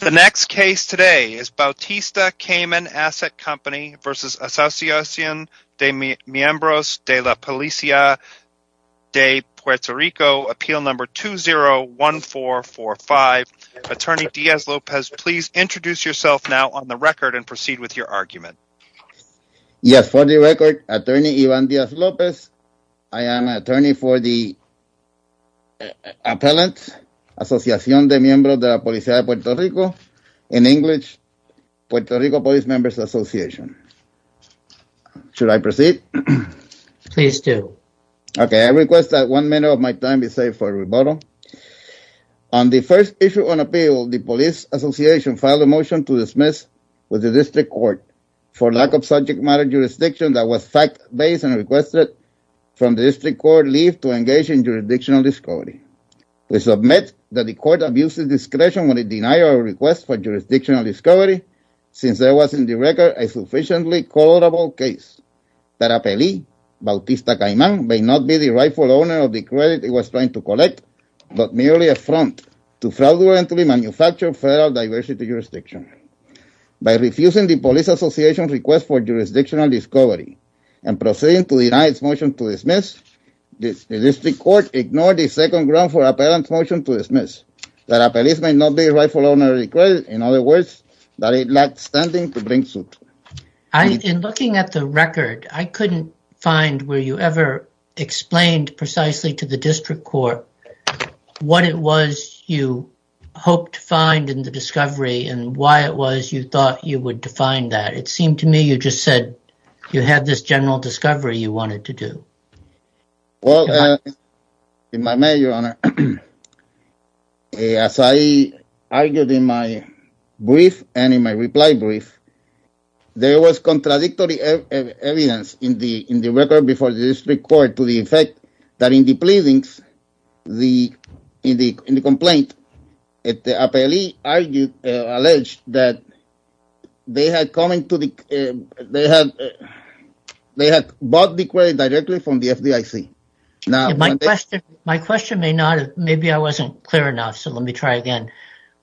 The next case today is Bautista Cayman Asset Company v. Asociacion de Miembros de la Policia de Puerto Rico, appeal number 201445. Attorney Diaz-Lopez, please introduce yourself now on the record and proceed with your argument. Yes, for the record, Attorney Ivan Diaz-Lopez, I am an attorney for the appellant, Asociacion de Miembros de la Policia de Puerto Rico, in English, Puerto Rico Police Members Association. Should I proceed? Please do. Okay, I request that one minute of my time be saved for rebuttal. On the first issue on appeal, the police association filed a motion to dismiss with the district court for lack of subject matter jurisdiction that was fact-based and requested from the district court leave to engage in jurisdictional discovery. We submit that the court abuses discretion when it denies our request for jurisdictional discovery since there was in the record a sufficiently colorable case. That appellee, Bautista Cayman, may not be the rightful owner of the credit he was trying to collect, but merely a front to fraudulently manufacture federal diversity jurisdiction. By refusing the police association's request for jurisdictional discovery and proceeding to deny its motion to dismiss, the district court ignored the second ground for appellant's motion to dismiss. That appellee may not be the rightful owner of the credit, in other words, that it lacked standing to bring suit. In looking at the record, I couldn't find where you ever explained precisely to the district court what it was you hoped to find in the discovery and why it was you thought you would define that. It seemed to me you just said you had this general discovery you wanted to do. Well, as I argued in my brief and in my reply brief, there was contradictory evidence in the record before the district court to the effect that in the pleadings, in the complaint, the appellee alleged that they had bought the credit directly from the FDIC. My question may not, maybe I wasn't clear enough, so let me try again.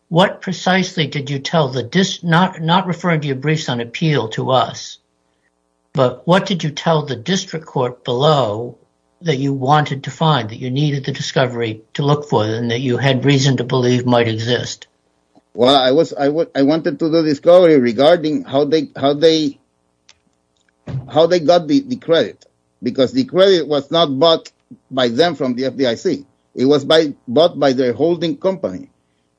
What precisely did you tell the, not referring to your briefs on appeal to us, but what did you tell the district court below that you wanted to find, that you needed the discovery to look for and that you had reason to believe might exist? Well, I wanted to do discovery regarding how they got the credit, because the credit was not bought by them from the FDIC. It was bought by their holding company,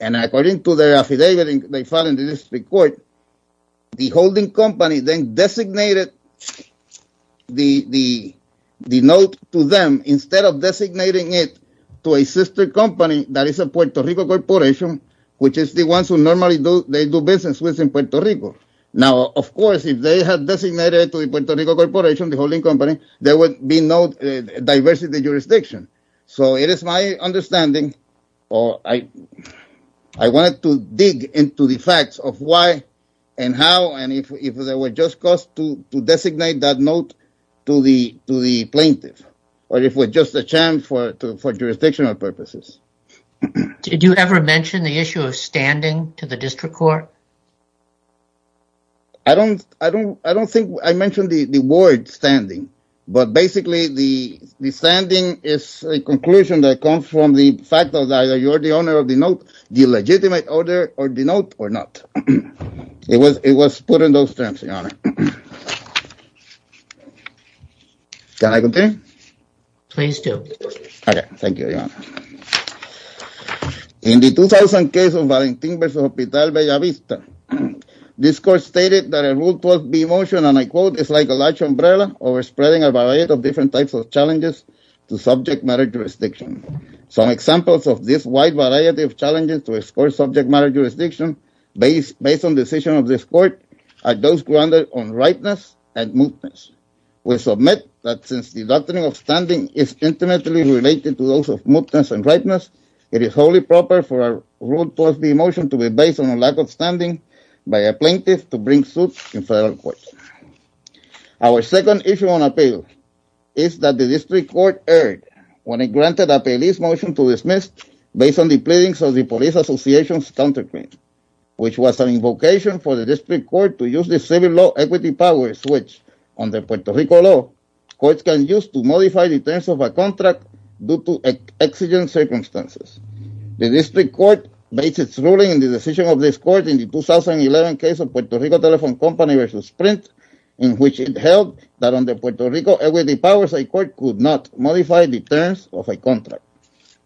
and according to their affidavit they filed in the district court, the holding company then designated the note to them instead of designating it to a sister company that is a Puerto Rico corporation, which is the ones who normally they do business with in Puerto Rico. Now, of course, if they had designated it to a Puerto Rico corporation, the holding company, there would be no diversity in the jurisdiction. So it is my understanding, or I wanted to dig into the facts of why and how and if there were just cause to designate that note to the plaintiff, or if it was just a chance for jurisdictional purposes. Did you ever mention the issue of standing to the district court? I don't think I mentioned the word standing, but basically the standing is a conclusion that comes from the fact that you're the owner of the note, the legitimate owner of the note or not. It was put in those terms, Your Honor. Can I continue? Please do. Okay, thank you, Your Honor. In the 2000 case of Valentin versus Hospital Bellavista, this court stated that a Rule 12b motion, and I quote, is like a large umbrella over spreading a variety of different types of challenges to subject matter jurisdiction. Some examples of this wide variety of challenges to a score subject matter jurisdiction based on decision of this court are those grounded on rightness and mootness. We submit that since the doctrine of standing is intimately related to those of mootness and rightness, it is wholly proper for a Rule 12b motion to be based on a lack of standing by a plaintiff to bring suits in federal court. Our second issue on appeal is that the district court erred when it granted a police motion to dismiss based on the pleadings of the police association's counterfeit, which was an invocation for the district court to use the civil law equity power switch on the Puerto Rico law courts can use to modify the terms of a contract due to exigent circumstances. The district court based its ruling in the decision of this court in the 2011 case of Puerto Rico Telephone Company versus Sprint, in which it held that under Puerto Rico equity powers, a court could not modify the terms of a contract.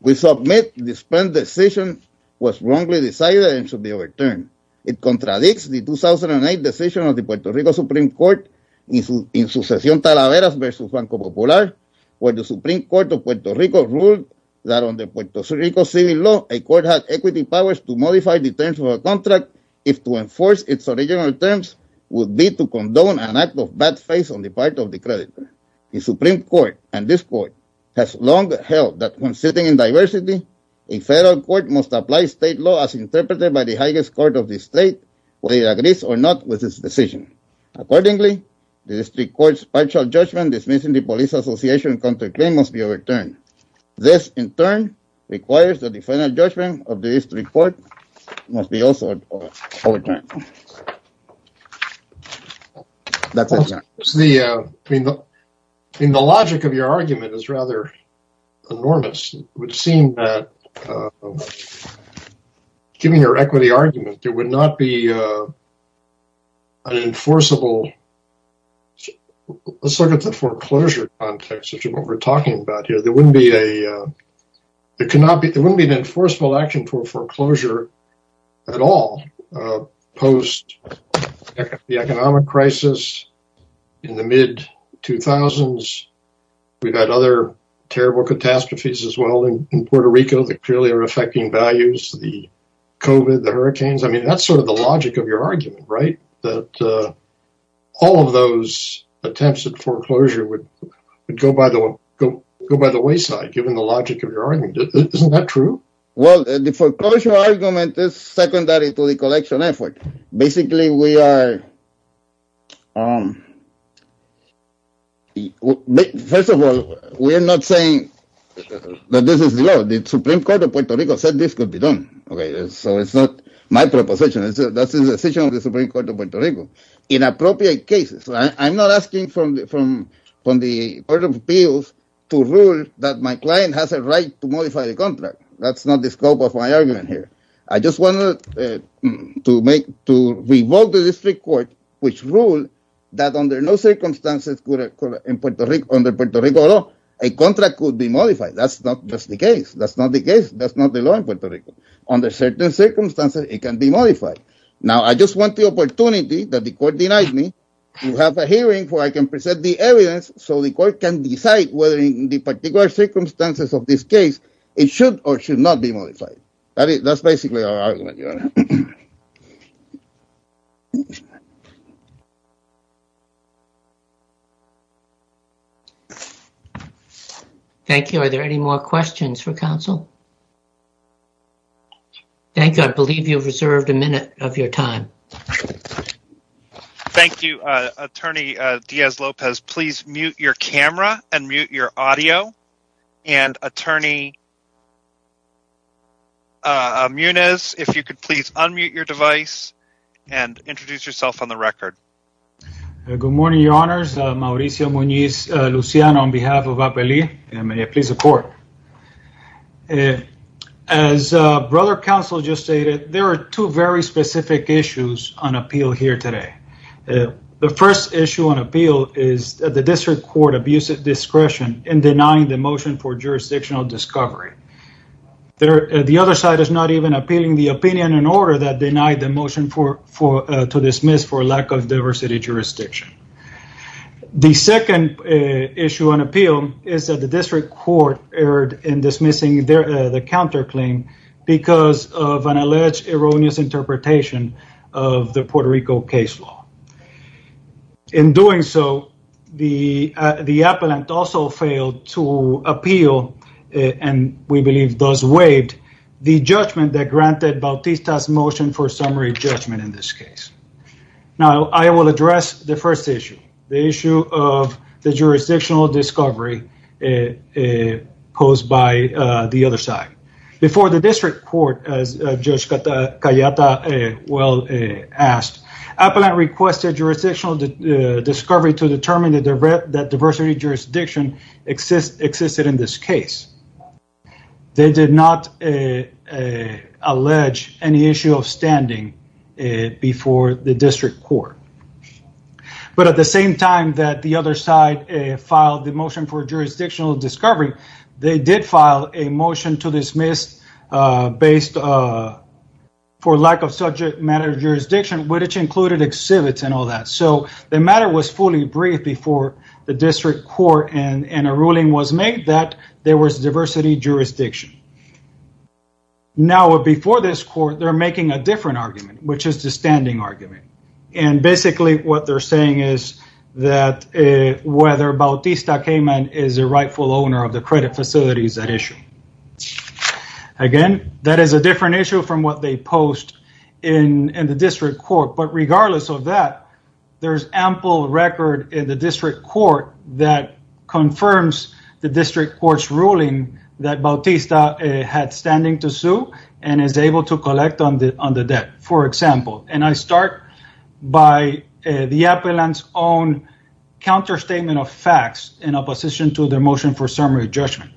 We submit the Sprint decision was wrongly decided and should be overturned. It contradicts the 2008 decision of the Puerto Rico Supreme Court in Sucesión Talaveras versus Banco Popular, where the Supreme Court of Puerto Rico ruled that under Puerto Rico civil law, a court had equity powers to modify the terms of a contract if to enforce its original terms would be to condone an act of bad faith on the part of the creditor. The Supreme Court and this court has long held that when sitting in diversity, a federal court must apply state law as interpreted by the highest court of the state, whether it agrees or not with this decision. Accordingly, the district court's partial judgment dismissing the police association's counterclaim must be overturned. This, in turn, requires that the final judgment of the district court must be also overturned. That's it. The economic crisis in the mid 2000s. We've had other terrible catastrophes as well in Puerto Rico that clearly are affecting values, the COVID, the hurricanes. I mean, that's sort of the logic of your argument, right? That all of those attempts at foreclosure would go by the wayside, given the logic of your argument. Isn't that true? Well, the foreclosure argument is secondary to the collection effort. Basically, we are. First of all, we're not saying that this is the Supreme Court of Puerto Rico said this could be done. OK, so it's not my proposition. That's the decision of the Supreme Court of Puerto Rico in appropriate cases. I'm not asking from from from the order of appeals to rule that my client has a right to modify the contract. That's not the scope of my argument here. I just wanted to make to revoke the district court, which ruled that under no circumstances in Puerto Rico, under Puerto Rico law, a contract could be modified. That's not just the case. That's not the case. That's not the law in Puerto Rico. Under certain circumstances, it can be modified. Now, I just want the opportunity that the court denied me to have a hearing where I can present the evidence so the court can decide whether in the particular circumstances of this case, it should or should not be modified. That's basically our argument. Thank you. Are there any more questions for counsel? Thank you. I believe you've reserved a minute of your time. Thank you, Attorney Diaz-Lopez. Please mute your camera and mute your audio. And Attorney Munez, if you could please unmute your device and introduce yourself on the record. Good morning, Your Honors. Mauricio Munez Luciano on behalf of APELY. May I please report? As Brother Counsel just stated, there are two very specific issues on appeal here today. The first issue on appeal is the district court abuse of discretion in denying the motion for jurisdictional discovery. The other side is not even appealing the opinion in order that denied the motion to dismiss for lack of diversity jurisdiction. The second issue on appeal is that the district court erred in dismissing the counterclaim because of an alleged erroneous interpretation of the Puerto Rico case law. In doing so, the appellant also failed to appeal and we believe thus waived the judgment that granted Bautista's motion for summary judgment in this case. Now, I will address the first issue, the issue of the jurisdictional discovery posed by the other side. Before the district court, as Judge Cayeta well asked, appellant requested jurisdictional discovery to determine that diversity jurisdiction existed in this case. They did not allege any issue of standing before the district court. At the same time that the other side filed the motion for jurisdictional discovery, they did file a motion to dismiss for lack of subject matter jurisdiction, which included exhibits and all that. The matter was fully briefed before the district court and a ruling was made that there was diversity jurisdiction. Now, before this court, they're making a different argument, which is the standing argument. Basically, what they're saying is that whether Bautista Cayman is a rightful owner of the credit facilities at issue. Again, that is a different issue from what they post in the district court. Regardless of that, there's ample record in the district court that confirms the district court's ruling that Bautista had standing to sue and is able to collect on the debt, for example. And I start by the appellant's own counterstatement of facts in opposition to their motion for summary judgment.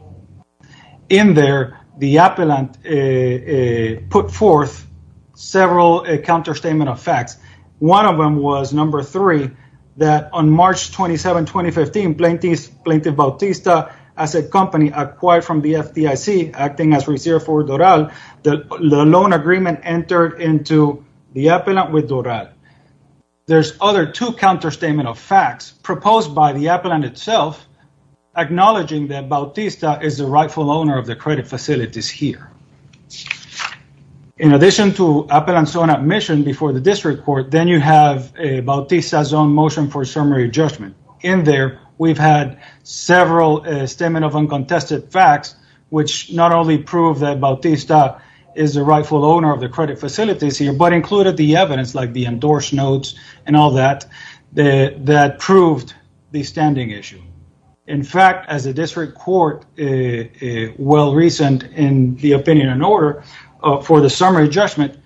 In there, the appellant put forth several counterstatement of facts. One of them was number three, that on March 27, 2015, Plaintiff Bautista, as a company acquired from the FDIC, acting as reserve for Doral, the loan agreement entered into the appellant with Doral. There's other two counterstatement of facts proposed by the appellant itself, acknowledging that Bautista is the rightful owner of the credit facilities here. In addition to appellant's own admission before the district court, then you have Bautista's own motion for summary judgment. In there, we've had several statement of uncontested facts, which not only prove that Bautista is the rightful owner of the credit facilities here, but included the evidence, like the endorsed notes and all that, that proved the standing issue. In fact, as a district court, well-reasoned in the opinion and order for the summary judgment,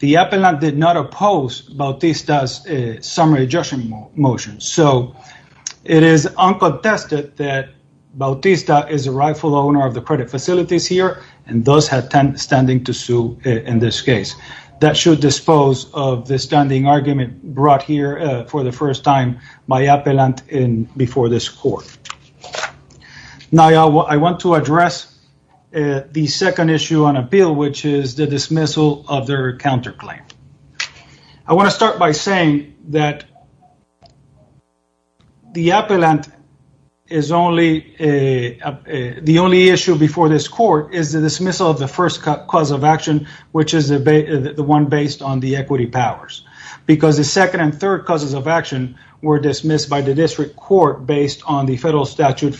the appellant did not oppose Bautista's summary judgment motion. So, it is uncontested that Bautista is the rightful owner of the credit facilities here, and thus has standing to sue in this case. That should dispose of the standing argument brought here for the first time by appellant before this court. Now, I want to address the second issue on appeal, which is the dismissal of their counterclaim. I want to start by saying that the appellant is only, the only issue before this court is the dismissal of the first cause of action, which is the one based on the equity powers. Because the second and third causes of action were dismissed by the district court based on the federal statute,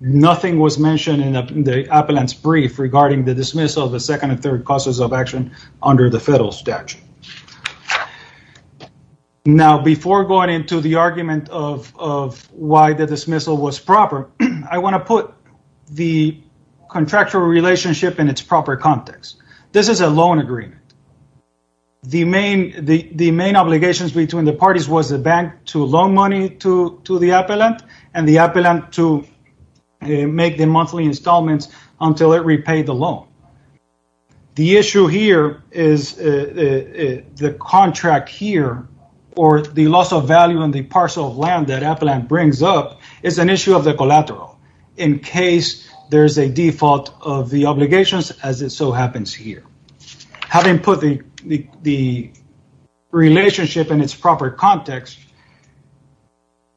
nothing was mentioned in the appellant's brief regarding the dismissal of the second and third causes of action under the federal statute. Now, before going into the argument of why the dismissal was proper, I want to put the contractual relationship in its proper context. This is a loan agreement. The main obligations between the parties was the bank to loan money to the appellant, and the appellant to make the monthly installments until it repaid the loan. The issue here is the contract here or the loss of value on the parcel of land that appellant brings up is an issue of the collateral in case there is a default of the obligations as it so happens here. Having put the relationship in its proper context,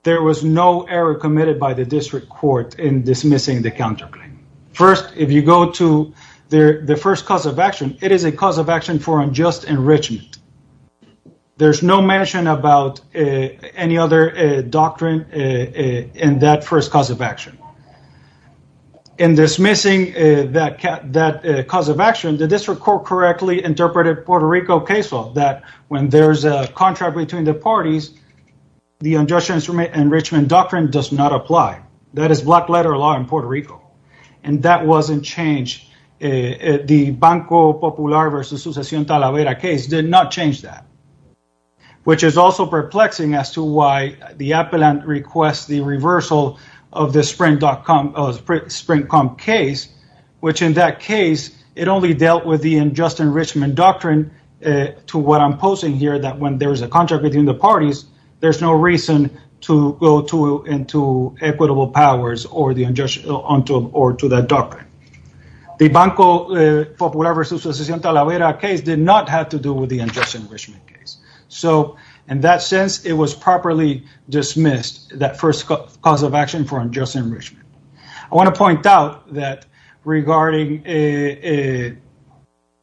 there was no error committed by the district court in dismissing the counterclaim. First, if you go to the first cause of action, it is a cause of action for unjust enrichment. There's no mention about any other doctrine in that first cause of action. In dismissing that cause of action, the district court correctly interpreted Puerto Rico case law that when there's a contract between the parties, the unjust enrichment doctrine does not apply. That is black letter law in Puerto Rico, and that wasn't changed. The Banco Popular versus Sucesión Talavera case did not change that, which is also perplexing as to why the appellant requests the reversal of the Sprint.com case, which in that case, it only dealt with the unjust enrichment doctrine to what I'm posing here that when there's a contract between the parties, there's no reason to go into equitable powers or to that doctrine. The Banco Popular versus Sucesión Talavera case did not have to do with the unjust enrichment case. In that sense, it was properly dismissed, that first cause of action for unjust enrichment. I want to point out that regarding the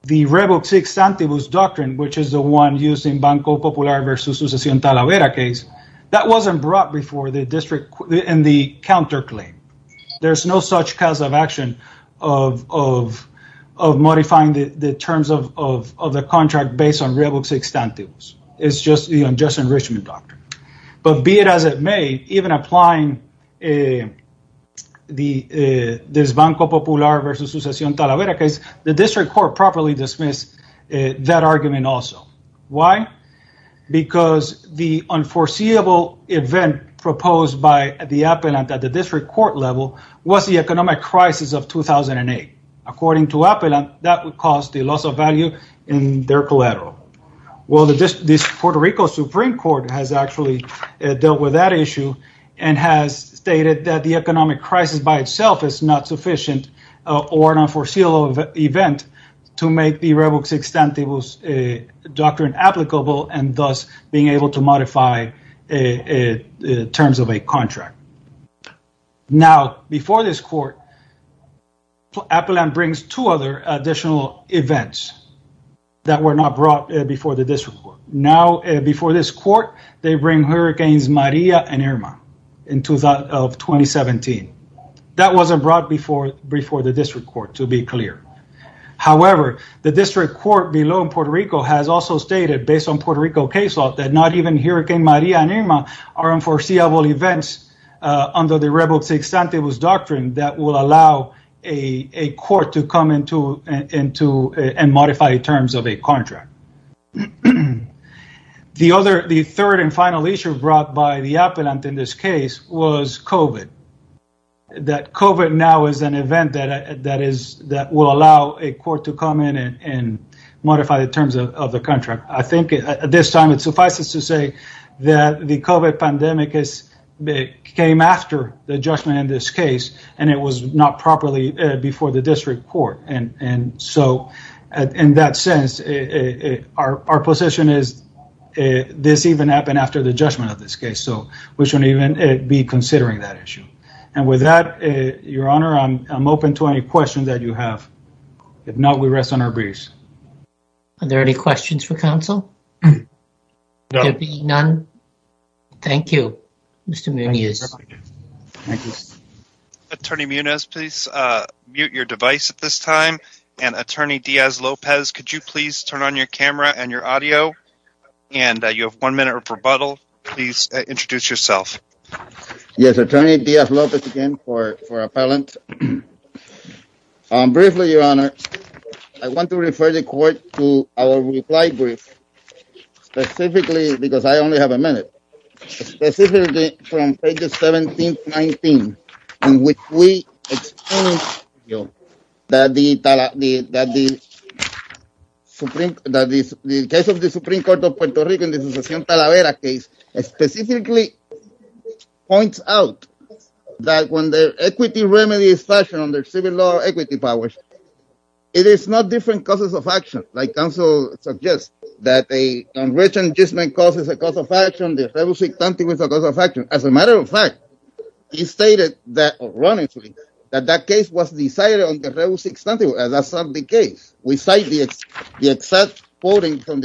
Rebux Extantibus doctrine, which is the one used in Banco Popular versus Sucesión Talavera case, that wasn't brought before the district in the counterclaim. There's no such cause of action of modifying the terms of the contract based on Rebux Extantibus. It's just the unjust enrichment doctrine. But be it as it may, even applying this Banco Popular versus Sucesión Talavera case, the district court properly dismissed that argument also. Why? Because the unforeseeable event proposed by the appellant at the district court level was the economic crisis of 2008. According to appellant, that would cause the loss of value in their collateral. This Puerto Rico Supreme Court has actually dealt with that issue and has stated that the economic crisis by itself is not sufficient or an unforeseeable event to make the Rebux Extantibus doctrine applicable and thus being able to modify terms of a contract. Now, before this court, appellant brings two other additional events that were not brought before the district court. Now, before this court, they bring Hurricanes Maria and Irma of 2017. That wasn't brought before the district court, to be clear. However, the district court below in Puerto Rico has also stated, based on Puerto Rico case law, that not even Hurricane Maria and Irma are unforeseeable events under the Rebux Extantibus doctrine that will allow a court to come into and modify terms of a contract. The third and final issue brought by the appellant in this case was COVID. That COVID now is an event that will allow a court to come in and modify the terms of the contract. I think at this time, it suffices to say that the COVID pandemic came after the judgment in this case, and it was not properly before the district court. And so, in that sense, our position is this even happened after the judgment of this case, so we shouldn't even be considering that issue. And with that, Your Honor, I'm open to any questions that you have. If not, we rest on our breaths. Are there any questions for counsel? None. Thank you, Mr. Munoz. Attorney Munoz, please mute your device at this time. And Attorney Diaz-Lopez, could you please turn on your camera and your audio? And you have one minute of rebuttal. Please introduce yourself. Yes, Attorney Diaz-Lopez again for appellant. Briefly, Your Honor, I want to refer the court to our reply brief. Specifically, because I only have a minute. Specifically, from pages 17 to 19, in which we explain that the Supreme Court of Puerto Rico in the Talavera case specifically points out that when the equity remedy is fashioned under civil law equity powers, it is not different causes of action. Like counsel suggests, that a congressional judgment causes a cause of action. The revocee stantibus is a cause of action. As a matter of fact, he stated that, ironically, that that case was decided on the revocee stantibus. That's not the case. We cite the exact quoting from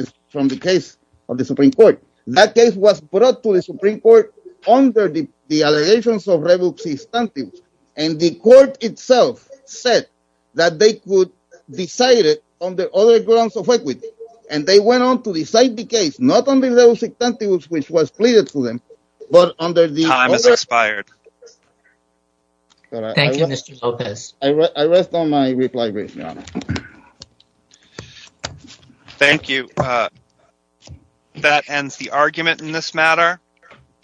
the case of the Supreme Court. That case was brought to the Supreme Court under the allegations of revocee stantibus. And the court itself said that they could decide it on the other grounds of equity. And they went on to decide the case, not on the revocee stantibus, which was pleaded to them, but under the other grounds of equity. Time has expired. Thank you, Mr. Lopez. I rest on my reply brief, Your Honor. Thank you. That ends the argument in this matter.